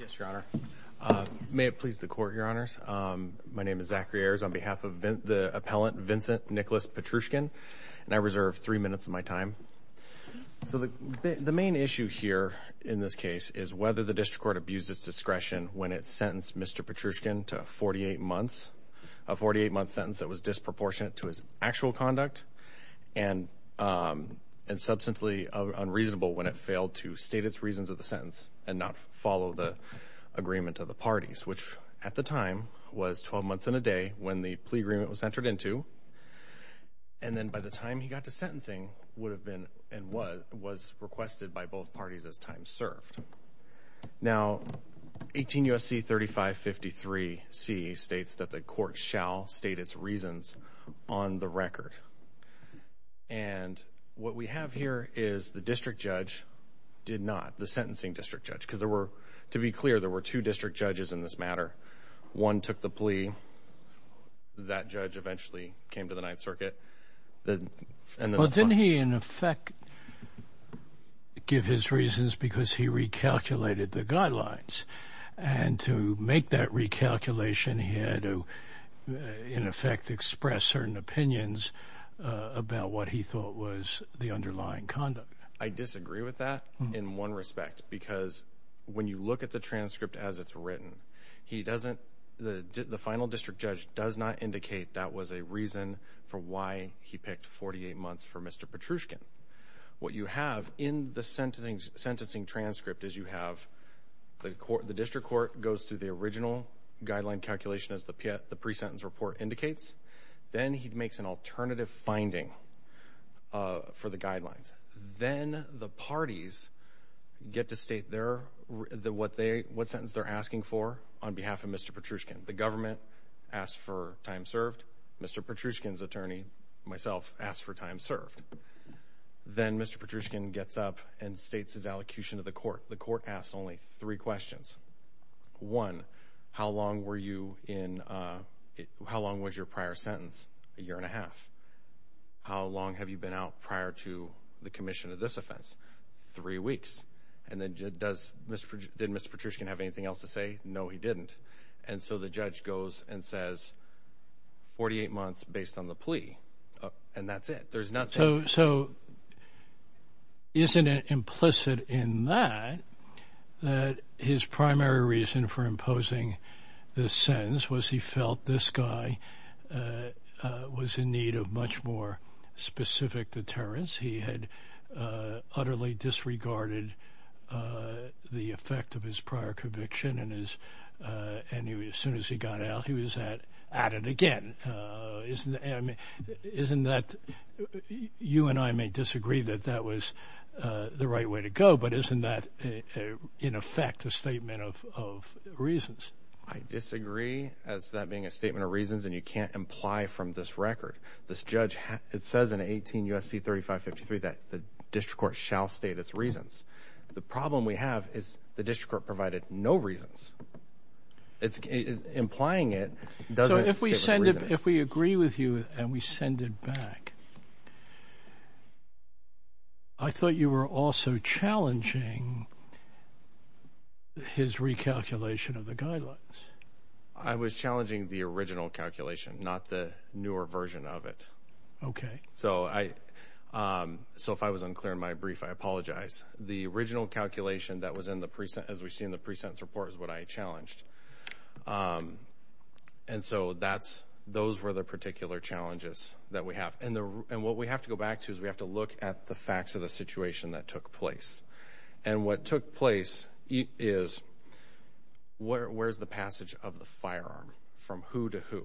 Yes, Your Honor. May it please the court, Your Honors. My name is Zachary Ayers. On behalf of the appellant, Vincent Nicholas Petrushkin, and I reserve three minutes of my time. So the main issue here in this case is whether the district court abused its discretion when it sentenced Mr. Petrushkin to a 48-month sentence that was disproportionate to his actual conduct and substantially unreasonable when it failed to state its reasons of the sentence and not follow the agreement of the parties, which at the time was 12 months and a day when the plea agreement was entered into. And then by the time he got to sentencing would have been and was requested by both parties as time served. Now, 18 U.S.C. 3553 states that the court shall state its reasons on the record. And what we have here is the district judge did not, the sentencing district judge, because there were, to be clear, there were two district judges in this matter. One took the plea. That judge eventually came to the Ninth Circuit. The... Well, didn't he in effect give his reasons because he recalculated the guidelines? And to make that recalculation, he had to, in effect, express certain opinions about what he thought was the underlying conduct. I disagree with that in one respect, because when you look at the transcript as it's written, he doesn't, the final district judge does not indicate that was a reason for why he picked 48 months for Mr. Petrushkin. What you have in the sentencing transcript is you have the court, the district court goes through the original guideline calculation as the pre-sentence report indicates. Then he makes an alternative finding for the guidelines. Then the parties get to state their, what they, what sentence they're asking for on behalf of Mr. Petrushkin. The government asked for time served. Mr. Petrushkin's attorney, myself, asked for time served. The court asks only three questions. One, how long were you in, how long was your prior sentence? A year and a half. How long have you been out prior to the commission of this offense? Three weeks. And then does Mr., did Mr. Petrushkin have anything else to say? No, he didn't. And so the judge goes and says, 48 months based on the plea. And that's it. There's nothing. So, isn't it implicit in that, that his primary reason for imposing this sentence was he felt this guy was in need of much more specific deterrence. He had utterly disregarded the effect of his prior conviction and his, and he, as soon as he got out, he was at, at it again. Isn't, isn't that, you and I may disagree that that was the right way to go, but isn't that in effect a statement of reasons? I disagree as that being a statement of reasons and you can't imply from this record. This judge, it says in 18 U.S.C. 3553 that the district court shall state its reasons. The problem we have is the district court provided no reasons. It's, implying it doesn't state the reasons. So, if we send it, if we with you and we send it back, I thought you were also challenging his recalculation of the guidelines. I was challenging the original calculation, not the newer version of it. Okay. So, I, so if I was unclear in my brief, I apologize. The original calculation that was in the present, as we see in the pre-sentence report, is what I challenged. And so, that's, those were the particular challenges that we have. And the, and what we have to go back to is we have to look at the facts of the situation that took place. And what took place is, where, where's the passage of the firearm? From who to who?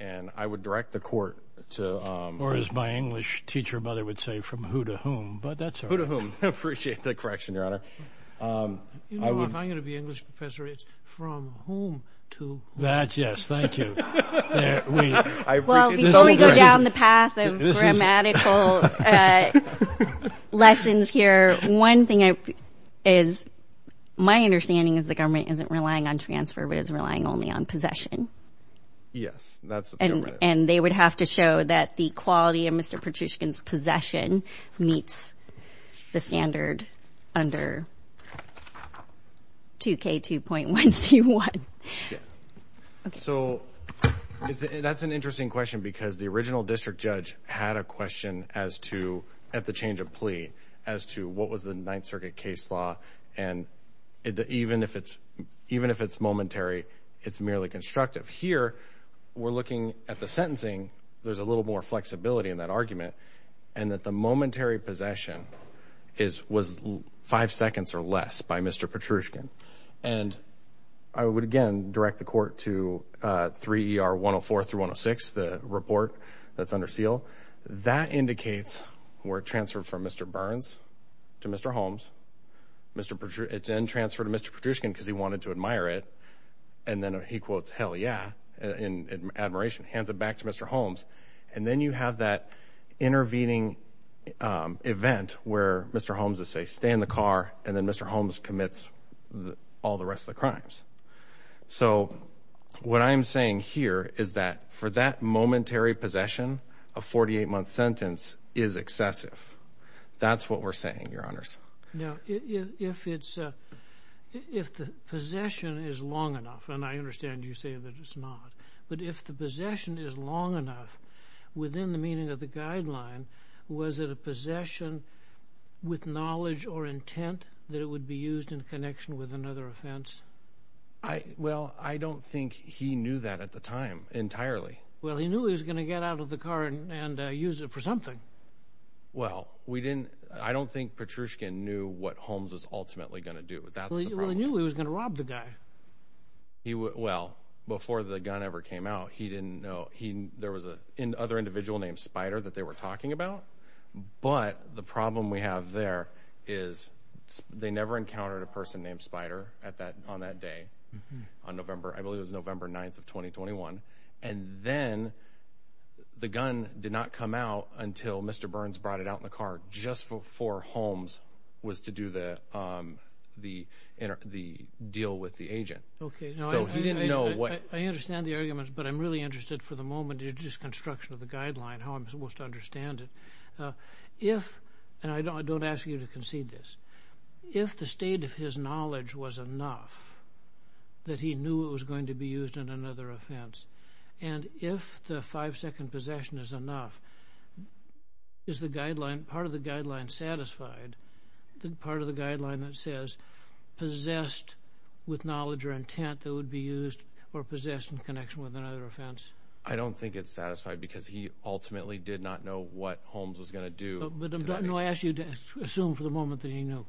And I would direct the court to... Or as my English teacher mother would say, from who to whom? But that's all right. Who to whom? I appreciate the correction, Your Honor. You know, if I'm going to be an English professor, it's from whom to whom? That, yes, thank you. Well, before we go down the path of grammatical lessons here, one thing I, is, my understanding is the government isn't relying on transfer, but is relying only on possession. Yes, that's what the government is. And, and they would have to show that the quality of Mr. Petrushkin's possession meets the standard under 2K2.1C1. So, that's an interesting question, because the original district judge had a question as to, at the change of plea, as to what was the Ninth Circuit case law. And even if it's, even if it's momentary, it's merely constructive. Here, we're looking at the sentencing, there's a little more flexibility in that argument, and that the momentary possession is, was five seconds or less by Mr. Petrushkin. And I would, again, direct the court to 3ER104 through 106, the report that's under seal. That indicates we're transferred from Mr. Burns to Mr. Holmes. Mr. Petrushkin, it's been transferred to Mr. Petrushkin because he wanted to admire it. And then he quotes, hell yeah, in admiration, hands it back to Mr. Holmes. And then you have that, intervening event where Mr. Holmes would say, stay in the car, and then Mr. Holmes commits all the rest of the crimes. So, what I'm saying here is that, for that momentary possession, a 48-month sentence is excessive. That's what we're saying, Your Honors. Now, if it's, if the possession is long enough, and I understand you saying that it's not, but if the possession is long enough, within the meaning of the guideline, was it a possession with knowledge or intent that it would be used in connection with another offense? I, well, I don't think he knew that at the time, entirely. Well, he knew he was going to get out of the car and use it for something. Well, we didn't, I don't think Petrushkin knew what Holmes was ultimately going to do. That's the problem. Well, he knew he was going to rob the guy. He, well, before the gun ever came out, he didn't know, there was another individual named Spider that they were talking about. But, the problem we have there is they never encountered a person named Spider on that day, on November, I believe it was November 9th of 2021. And then, the gun did not come out until Mr. Burns brought it out in the car, just before Holmes was to do the deal with the agent. Okay. So, he didn't know what... I understand the arguments, but I'm really interested for the moment in this construction of the guideline, how I'm supposed to understand it. If, and I don't ask you to concede this, if the state of his knowledge was enough that he knew it was going to be used in another offense, and if the five-second possession is enough, is the guideline, part of the guideline satisfied, the part of the guideline that says possessed with knowledge or intent that it would be used or possessed in connection with another offense? I don't think it's satisfied, because he ultimately did not know what Holmes was going to do to that agent. No, I ask you to assume for the moment that he knew.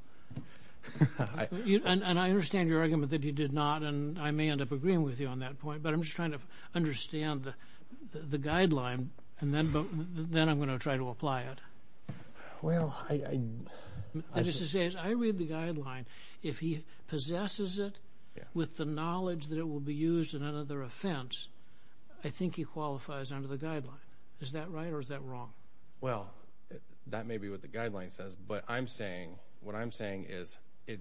And I understand your argument that he did not, and I may end up agreeing with you on that point, but I'm just trying to understand the guideline, and then I'm going to try to apply it. Well, I... What I'm trying to say is I read the guideline. If he possesses it with the knowledge that it will be used in another offense, I think he qualifies under the guideline. Is that right, or is that wrong? Well, that may be what the guideline says, but I'm saying, what I'm saying is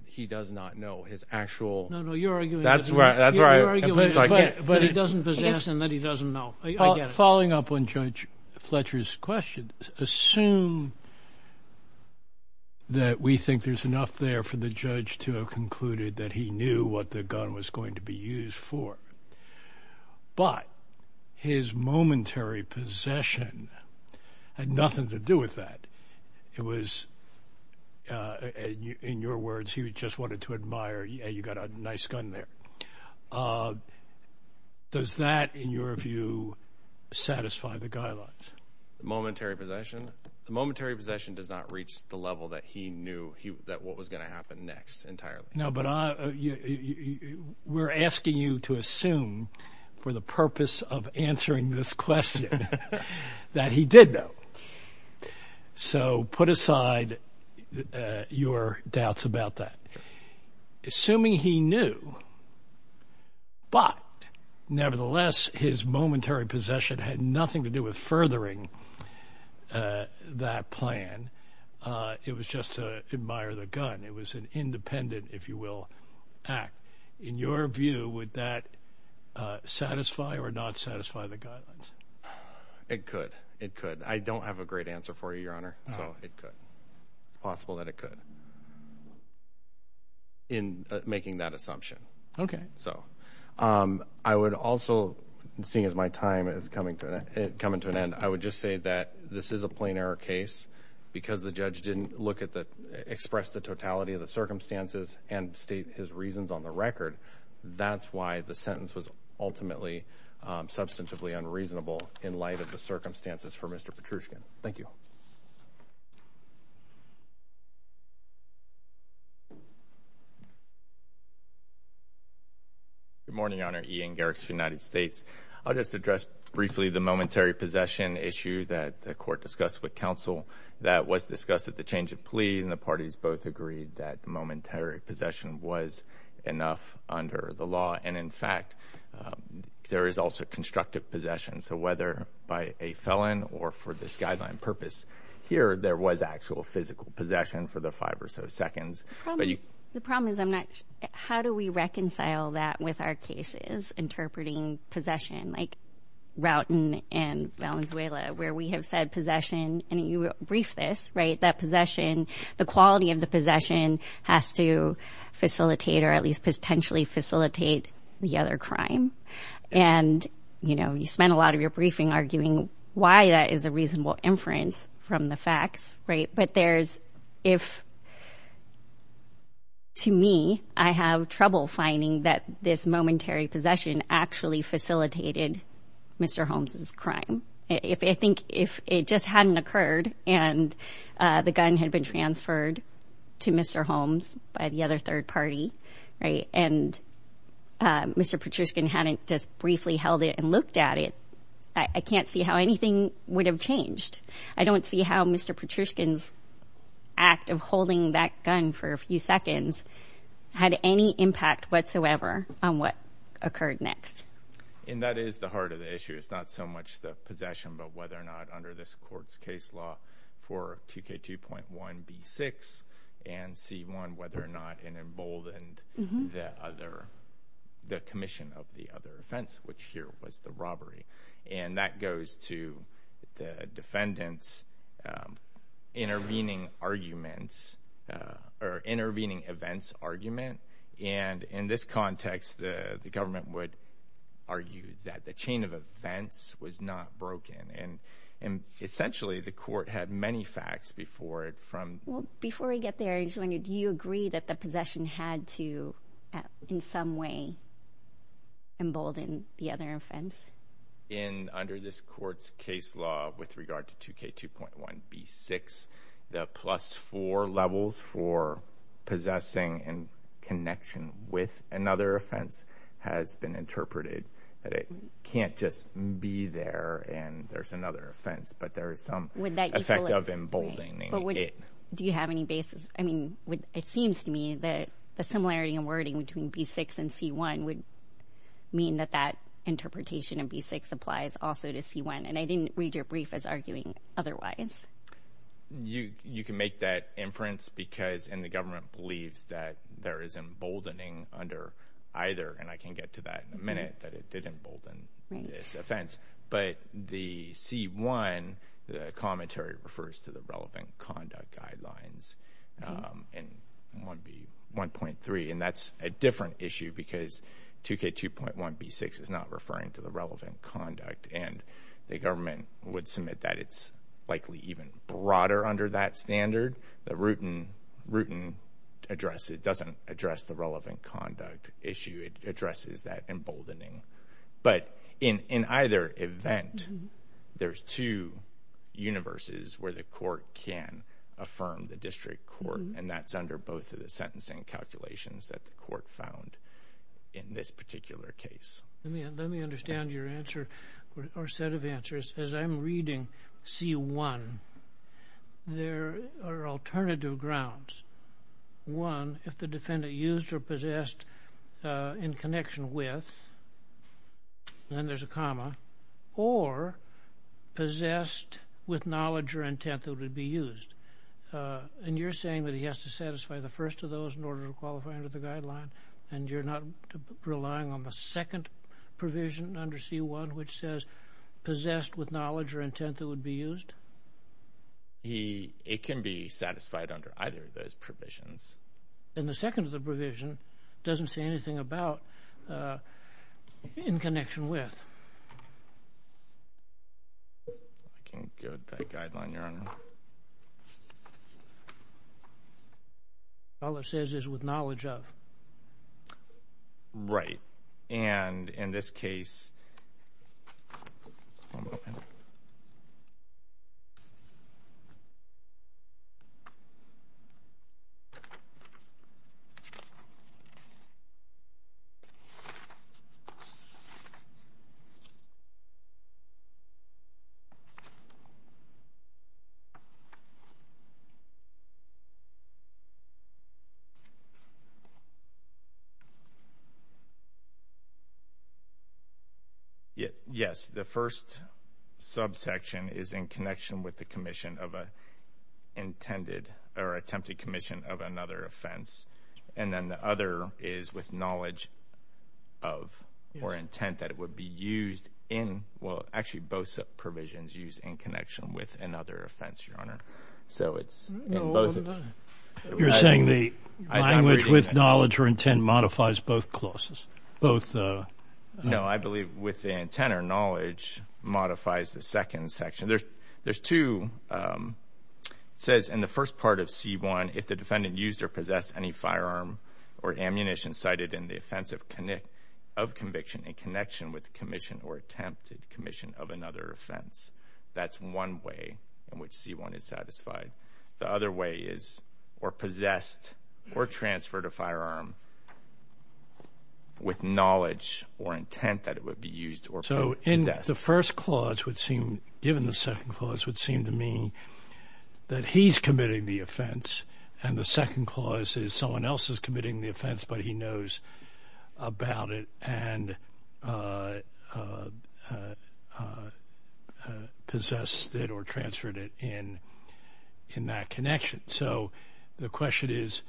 he does not know his actual... No, no, you're arguing... That's where I... You're arguing, but he doesn't possess and that he doesn't know. I get it. Well, following up on Judge Fletcher's question, assume that we think there's enough there for the judge to have concluded that he knew what the gun was going to be used for, but his momentary possession had nothing to do with that. It was, in your words, he just wanted to admire, hey, you got a nice gun there. Does that, in your view, satisfy the guidelines? Momentary possession? The momentary possession does not reach the level that he knew that what was going to happen next entirely. No, but I... We're asking you to assume for the purpose of answering this question that he did know. So put aside your doubts about that. Assuming he knew, but nevertheless, his momentary possession had nothing to do with furthering that plan. It was just to admire the gun. It was an independent, if you will, act. In your view, would that satisfy or not satisfy the guidelines? It could. It could. I don't have a great answer for you, Your Honor, so it could. It's possible that it could. In making that assumption. So I would also, seeing as my time is coming to an end, I would just say that this is a plain error case because the judge didn't look at the express the totality of the circumstances and state his reasons on the record. That's why the sentence was ultimately substantively unreasonable in light of the circumstances for Mr. Petrushkin. Thank you. Good morning, Your Honor. Ian Garrix, United States. I'll just address briefly the momentary possession issue that the court discussed with counsel that was discussed at the change of plea, and the parties both agreed that momentary possession was enough under the law. And, in fact, there is also constructive possession. So whether by a felon or for this guideline purpose, here there was actual physical possession for the five or so seconds. The problem is how do we reconcile that with our cases, interpreting possession like Roughton and Valenzuela, where we have said possession, and you briefed this, right, that possession, the quality of the possession, has to facilitate or at least potentially facilitate the other crime. And, you know, you spent a lot of your briefing arguing why that is a reasonable inference from the facts. Right. But there's if. To me, I have trouble finding that this momentary possession actually facilitated Mr. Holmes's crime, if I think if it just hadn't occurred and the gun had been transferred to Mr. Holmes by the other third party, right, and Mr. Patrushkin hadn't just briefly held it and looked at it. I can't see how anything would have changed. I don't see how Mr. Patrushkin's act of holding that gun for a few seconds had any impact whatsoever on what occurred next. And that is the heart of the issue. It's not so much the possession, but whether or not under this court's case law for 2K2.1B6 and C1, whether or not it emboldened the commission of the other offense, which here was the robbery. And that goes to the defendant's intervening arguments or intervening events argument. And in this context, the government would argue that the chain of events was not broken. And essentially, the court had many facts before it from. Well, before we get there, do you agree that the possession had to, in some way, embolden the other offense? In under this court's case law with regard to 2K2.1B6, the plus four levels for possessing and connection with another offense has been interpreted that it can't just be there and there's another offense, but there is some effect of emboldening it. Do you have any basis? I mean, it seems to me that the similarity in wording between B6 and C1 would mean that that interpretation of B6 applies also to C1. And I didn't read your brief as arguing otherwise. You can make that inference because the government believes that there is emboldening under either, and I can get to that in a minute, that it did embolden this offense. But the C1, the commentary refers to the relevant conduct guidelines in 1.3, and that's a different issue because 2K2.1B6 is not referring to the relevant conduct. And the government would submit that it's likely even broader under that standard. The Rooten address, it doesn't address the relevant conduct issue. It addresses that emboldening. But in either event, there's two universes where the court can affirm the district court, and that's under both of the sentencing calculations that the court found in this particular case. Let me understand your answer or set of answers. As I'm reading C1, there are alternative grounds. One, if the defendant used or possessed in connection with, then there's a comma, or possessed with knowledge or intent that it would be used. And you're saying that he has to satisfy the first of those in order to qualify under the guideline, and you're not relying on the second provision under C1 which says possessed with knowledge or intent that it would be used? It can be satisfied under either of those provisions. And the second of the provision doesn't say anything about in connection with. I can't get that guideline, Your Honor. All it says is with knowledge of. Right. And in this case. Yes. The first subsection is in connection with the commission of an intended or attempted commission of another offense. And then the other is with knowledge of or intent that it would be used in. Well, actually, both provisions used in connection with another offense, Your Honor. So it's in both of them. You're saying the language with knowledge or intent modifies both clauses, both? No, I believe with the intent or knowledge modifies the second section. There's two. It says in the first part of C1, if the defendant used or possessed any firearm or ammunition cited in the offense of conviction in connection with the commission or attempted commission of another offense. That's one way in which C1 is satisfied. The other way is or possessed or transferred a firearm with knowledge or intent that it would be used or possessed. So the first clause would seem, given the second clause, would seem to me that he's committing the offense and the second clause is someone else is committing the offense, but he knows about it and possessed it or transferred it in that connection. So the question is,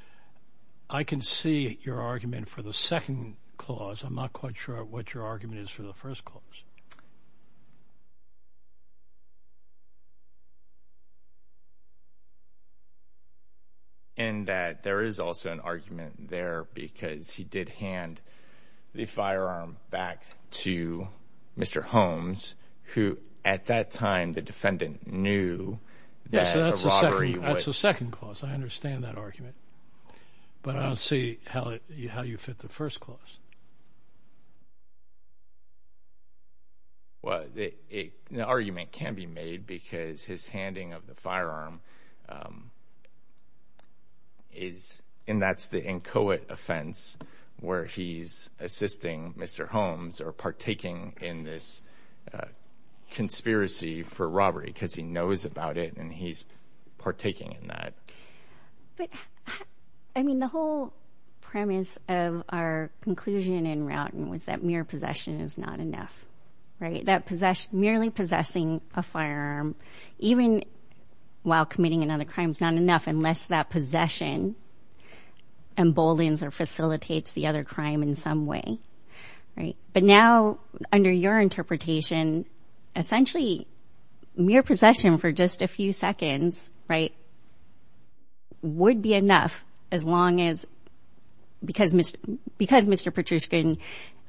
I can see your argument for the second clause. I'm not quite sure what your argument is for the first clause. In that there is also an argument there because he did hand the firearm back to Mr. Holmes, who at that time the defendant knew that a robbery would. That's the second clause. I understand that argument, but I don't see how you fit the first clause. Well, the argument can be made because his handing of the firearm is, and that's the inchoate offense where he's assisting Mr. Holmes or partaking in this conspiracy for robbery because he knows about it and he's partaking in that. I mean, the whole premise of our conclusion in Roughton was that mere possession is not enough. That merely possessing a firearm, even while committing another crime, is not enough unless that possession emboldens or facilitates the other crime in some way. But now under your interpretation, essentially mere possession for just a few seconds would be enough because Mr. Patrushkin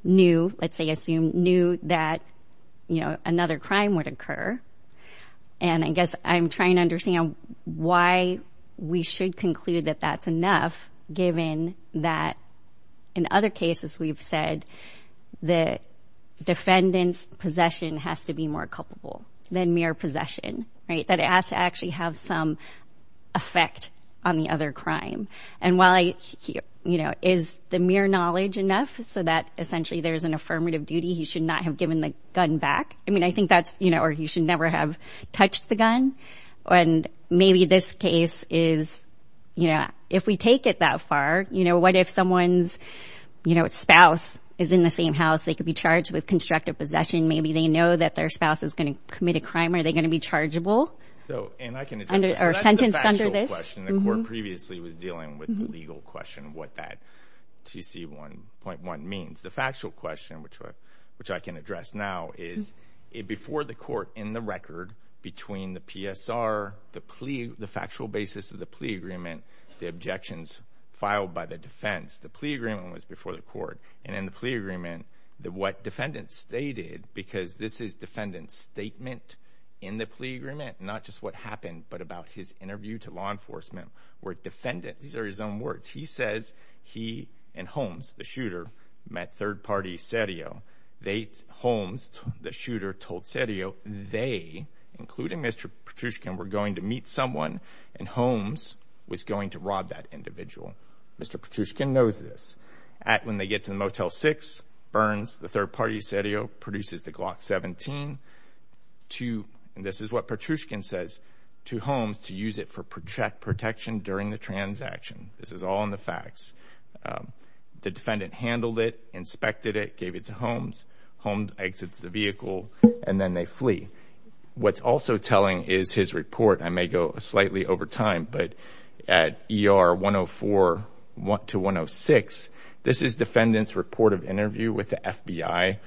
knew, let's say assumed, knew that another crime would occur. And I guess I'm trying to understand why we should conclude that that's enough given that in other cases we've said the defendant's possession has to be more culpable than mere possession, right? That it has to actually have some effect on the other crime. And while, you know, is the mere knowledge enough so that essentially there's an affirmative duty, he should not have given the gun back? I mean, I think that's, you know, or he should never have touched the gun. And maybe this case is, you know, if we take it that far, you know, what if someone's, you know, spouse is in the same house? They could be charged with constructive possession. Maybe they know that their spouse is going to commit a crime. Are they going to be chargeable or sentenced under this? That's the factual question. The court previously was dealing with the legal question of what that 2C.1.1 means. The factual question, which I can address now, is before the court in the record between the PSR, the factual basis of the plea agreement, the objections filed by the defense. The plea agreement was before the court. And in the plea agreement, what defendant stated, because this is defendant's statement in the plea agreement, not just what happened but about his interview to law enforcement where defendant, these are his own words, he says he and Holmes, the shooter, met third-party Serio. Holmes, the shooter, told Serio they, including Mr. Petrushkin, were going to meet someone, and Holmes was going to rob that individual. Mr. Petrushkin knows this. When they get to the Motel 6, Burns, the third-party Serio, produces the Glock 17. This is what Petrushkin says to Holmes to use it for protection during the transaction. This is all in the facts. The defendant handled it, inspected it, gave it to Holmes. Holmes exits the vehicle, and then they flee. What's also telling is his report. I may go slightly over time, but at ER 104 to 106, this is defendant's report of interview with the FBI,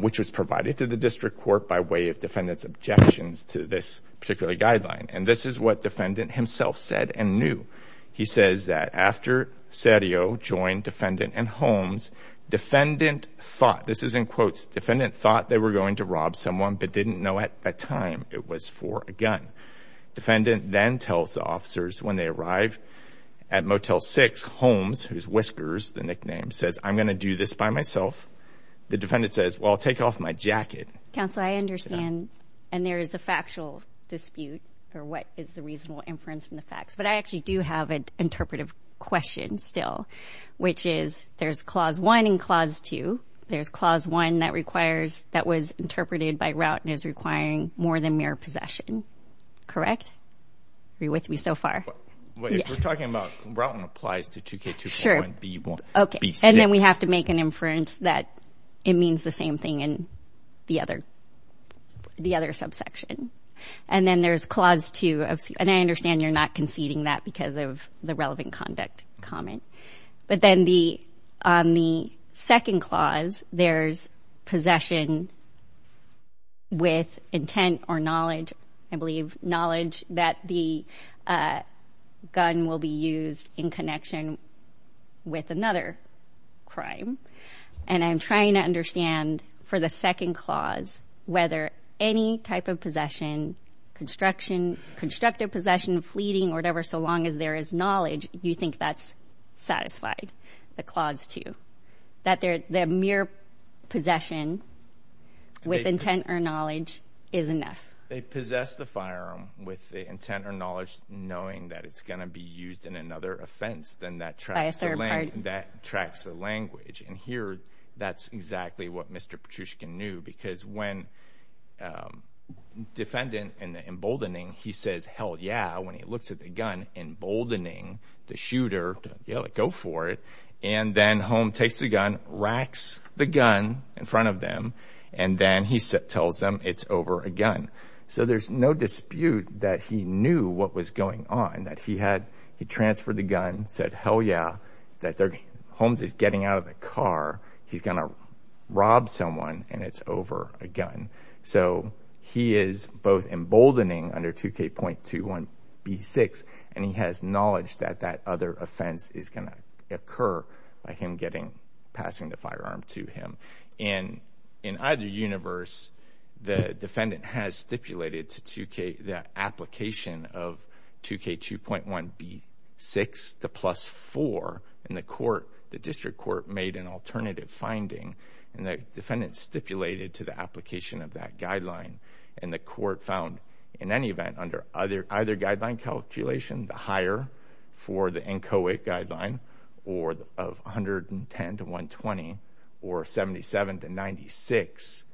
which was provided to the district court by way of defendant's objections to this particular guideline. And this is what defendant himself said and knew. He says that after Serio joined defendant and Holmes, defendant thought, this is in quotes, defendant thought they were going to rob someone but didn't know at that time it was for a gun. Defendant then tells the officers when they arrive at Motel 6, Holmes, who's Whiskers, the nickname, says, I'm going to do this by myself. The defendant says, well, I'll take off my jacket. Counsel, I understand, and there is a factual dispute, or what is the reasonable inference from the facts, but I actually do have an interpretive question still, which is there's Clause 1 and Clause 2. There's Clause 1 that was interpreted by Routen as requiring more than mere possession. Correct? Are you with me so far? If we're talking about Routen applies to 2K241B6. And then we have to make an inference that it means the same thing in the other subsection. And then there's Clause 2, and I understand you're not conceding that because of the relevant conduct comment. But then on the second clause, there's possession with intent or knowledge, I believe, knowledge that the gun will be used in connection with another crime. And I'm trying to understand, for the second clause, whether any type of possession, construction, constructive possession, fleeting, or whatever, so long as there is knowledge, you think that's satisfied, the Clause 2, that the mere possession with intent or knowledge is enough. They possess the firearm with the intent or knowledge, knowing that it's going to be used in another offense. Then that tracks the language. And here, that's exactly what Mr. Petrushkin knew. Because when defendant in the emboldening, he says, hell yeah, when he looks at the gun, emboldening the shooter to go for it, and then Holm takes the gun, racks the gun in front of them, and then he tells them it's over a gun. So there's no dispute that he knew what was going on. That he had transferred the gun, said, hell yeah, that Holmes is getting out of the car, he's going to rob someone, and it's over a gun. So he is both emboldening under 2K.21b6, and he has knowledge that that other offense is going to occur by him passing the firearm to him. And in either universe, the defendant has stipulated to 2K, the application of 2K.21b6, the plus four, and the court, the district court, made an alternative finding, and the defendant stipulated to the application of that guideline. And the court found, in any event, under either guideline calculation, the higher for the NCOA guideline, or of 110 to 120, or 77 to 96,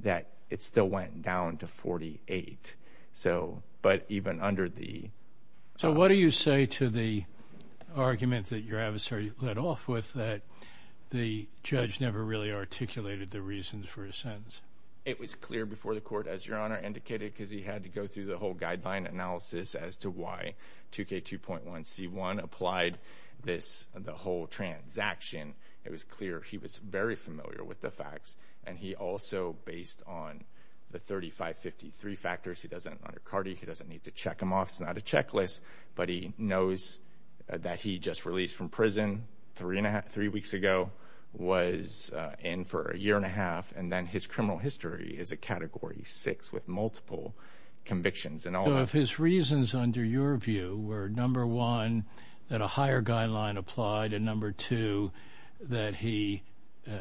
that it still went down to 48. So, but even under the... So what do you say to the arguments that your adversary led off with that the judge never really articulated the reasons for his sentence? It was clear before the court, as Your Honor indicated, because he had to go through the whole guideline analysis as to why 2K.21c1 applied this, the whole transaction. It was clear he was very familiar with the facts, and he also, based on the 3553 factors, he doesn't, under CARDI, he doesn't need to check them off. It's not a checklist, but he knows that he just released from prison three weeks ago, was in for a year and a half, and then his criminal history is a Category 6 with multiple convictions. So if his reasons under your view were, number one, that a higher guideline applied, and number two, that he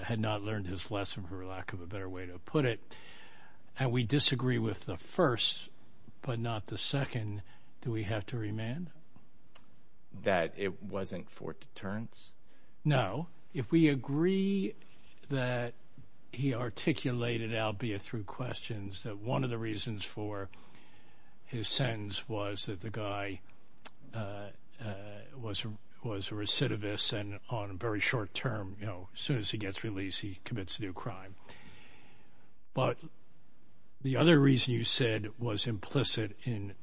had not learned his lesson, for lack of a better way to put it, and we disagree with the first but not the second, do we have to remand? That it wasn't for deterrence? No. If we agree that he articulated, albeit through questions, that one of the reasons for his sentence was that the guy was a recidivist and on a very short term, you know, as soon as he gets released, he commits a new crime. But the other reason you said was implicit in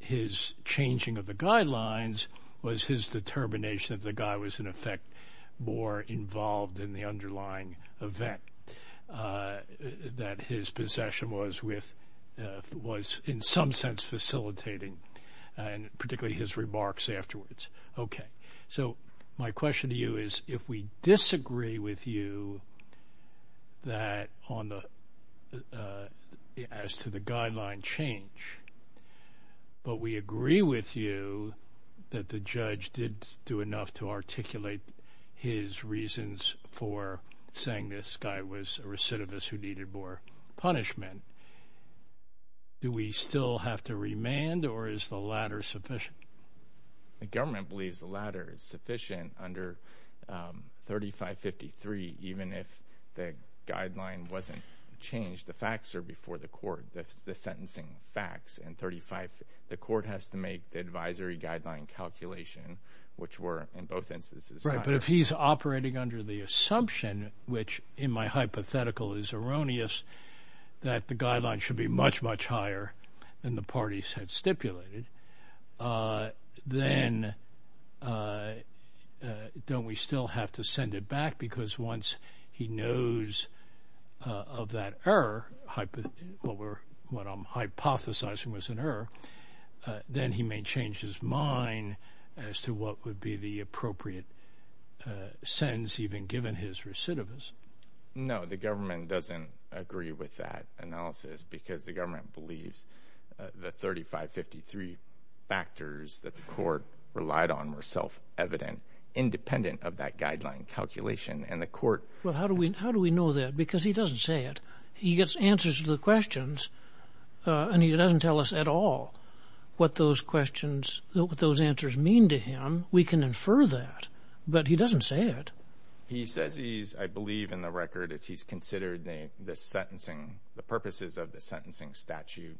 his changing of the guidelines was his determination that the guy was, in effect, more involved in the underlying event, that his possession was in some sense facilitating, and particularly his remarks afterwards. Okay. So my question to you is if we disagree with you as to the guideline change, but we agree with you that the judge did do enough to articulate his reasons for saying this guy was a recidivist who needed more punishment, do we still have to remand or is the latter sufficient? The government believes the latter is sufficient under 3553, even if the guideline wasn't changed. The facts are before the court, the sentencing facts, and the court has to make the advisory guideline calculation, which were in both instances. Right, but if he's operating under the assumption, which in my hypothetical is erroneous, that the guideline should be much, much higher than the parties had stipulated, then don't we still have to send it back? Because once he knows of that error, what I'm hypothesizing was an error, then he may change his mind as to what would be the appropriate sentence, even given his recidivism. No, the government doesn't agree with that analysis because the government believes the 3553 factors that the court relied on were self-evident, independent of that guideline calculation. Well, how do we know that? Because he doesn't say it. He gets answers to the questions, and he doesn't tell us at all what those answers mean to him. We can infer that, but he doesn't say it. He says he's, I believe in the record, he's considered the purposes of the sentencing statute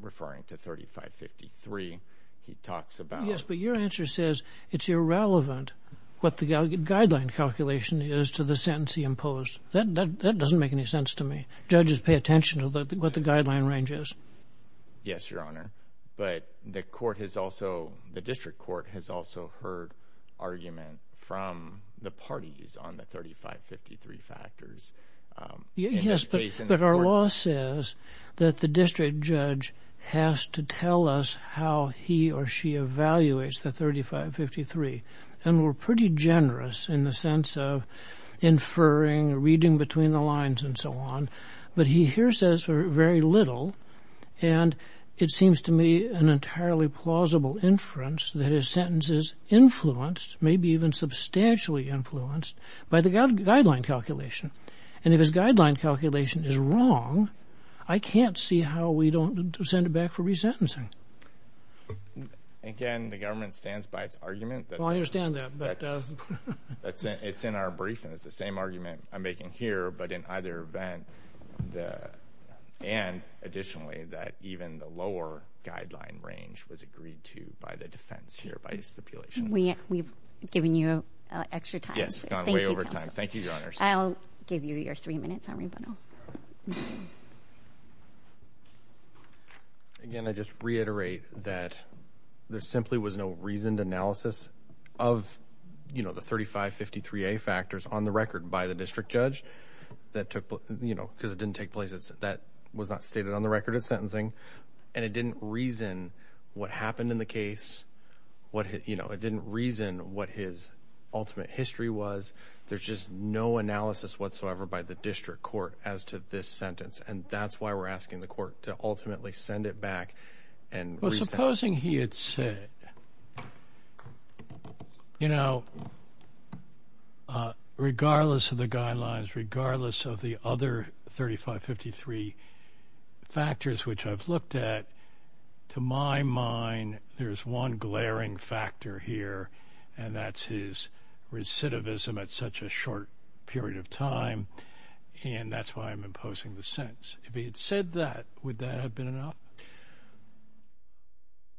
referring to 3553. He talks about... Yes, but your answer says it's irrelevant what the guideline calculation is to the sentence he imposed. That doesn't make any sense to me. Judges pay attention to what the guideline range is. Yes, Your Honor, but the court has also, the district court has also heard argument from the parties on the 3553 factors. Yes, but our law says that the district judge has to tell us how he or she evaluates the 3553, and we're pretty generous in the sense of inferring, reading between the lines, and so on. But he here says very little, and it seems to me an entirely plausible inference that his sentence is influenced, maybe even substantially influenced, by the guideline calculation. And if his guideline calculation is wrong, I can't see how we don't send it back for resentencing. Again, the government stands by its argument. Well, I understand that, but... It's in our brief, and it's the same argument I'm making here, but in either event, and additionally, that even the lower guideline range was agreed to by the defense here, by his stipulation. We've given you extra time. Yes, it's gone way over time. Thank you, Your Honor. I'll give you your three minutes, Henry Bono. Again, I just reiterate that there simply was no reasoned analysis of the 3553A factors on the record by the district judge, because it didn't take place. That was not stated on the record of sentencing, and it didn't reason what happened in the case. It didn't reason what his ultimate history was. There's just no analysis whatsoever by the district court as to this sentence, and that's why we're asking the court to ultimately send it back and resent. Supposing he had said, you know, regardless of the guidelines, regardless of the other 3553 factors which I've looked at, to my mind, there's one glaring factor here, and that's his recidivism at such a short period of time, and that's why I'm imposing the sentence. If he had said that, would that have been enough?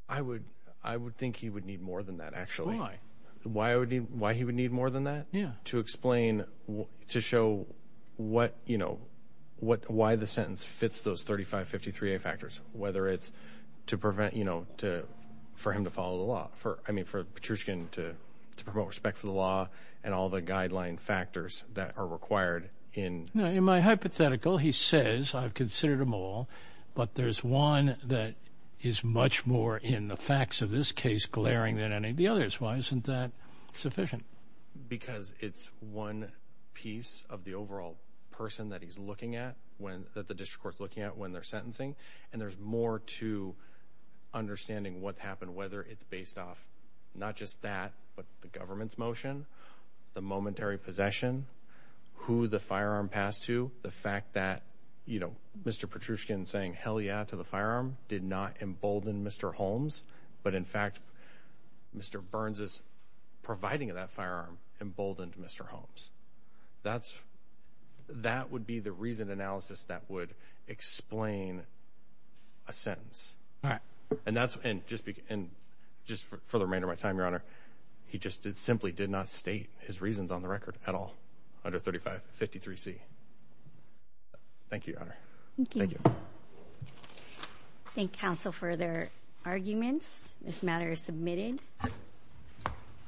I would think he would need more than that, actually. Why he would need more than that? To explain, to show what, you know, why the sentence fits those 3553A factors, whether it's to prevent, you know, for him to follow the law, I mean, for Petrushkin to promote respect for the law and all the guideline factors that are required in... In my hypothetical, he says, I've considered them all, but there's one that is much more in the facts of this case glaring than any of the others. Why isn't that sufficient? Because it's one piece of the overall person that he's looking at, that the district court's looking at when they're sentencing, and there's more to understanding what's happened, whether it's based off not just that, but the government's motion, the momentary possession, who the firearm passed to, the fact that, you know, Mr. Petrushkin saying, hell yeah, to the firearm did not embolden Mr. Holmes, but in fact, Mr. Burns' providing of that firearm emboldened Mr. Holmes. That's... That would be the reason analysis that would explain a sentence. All right. And that's... And just for the remainder of my time, Your Honor, he just simply did not state his reasons on the record at all under 3553C. Thank you, Your Honor. Thank you. Thank counsel for their arguments. This matter is submitted.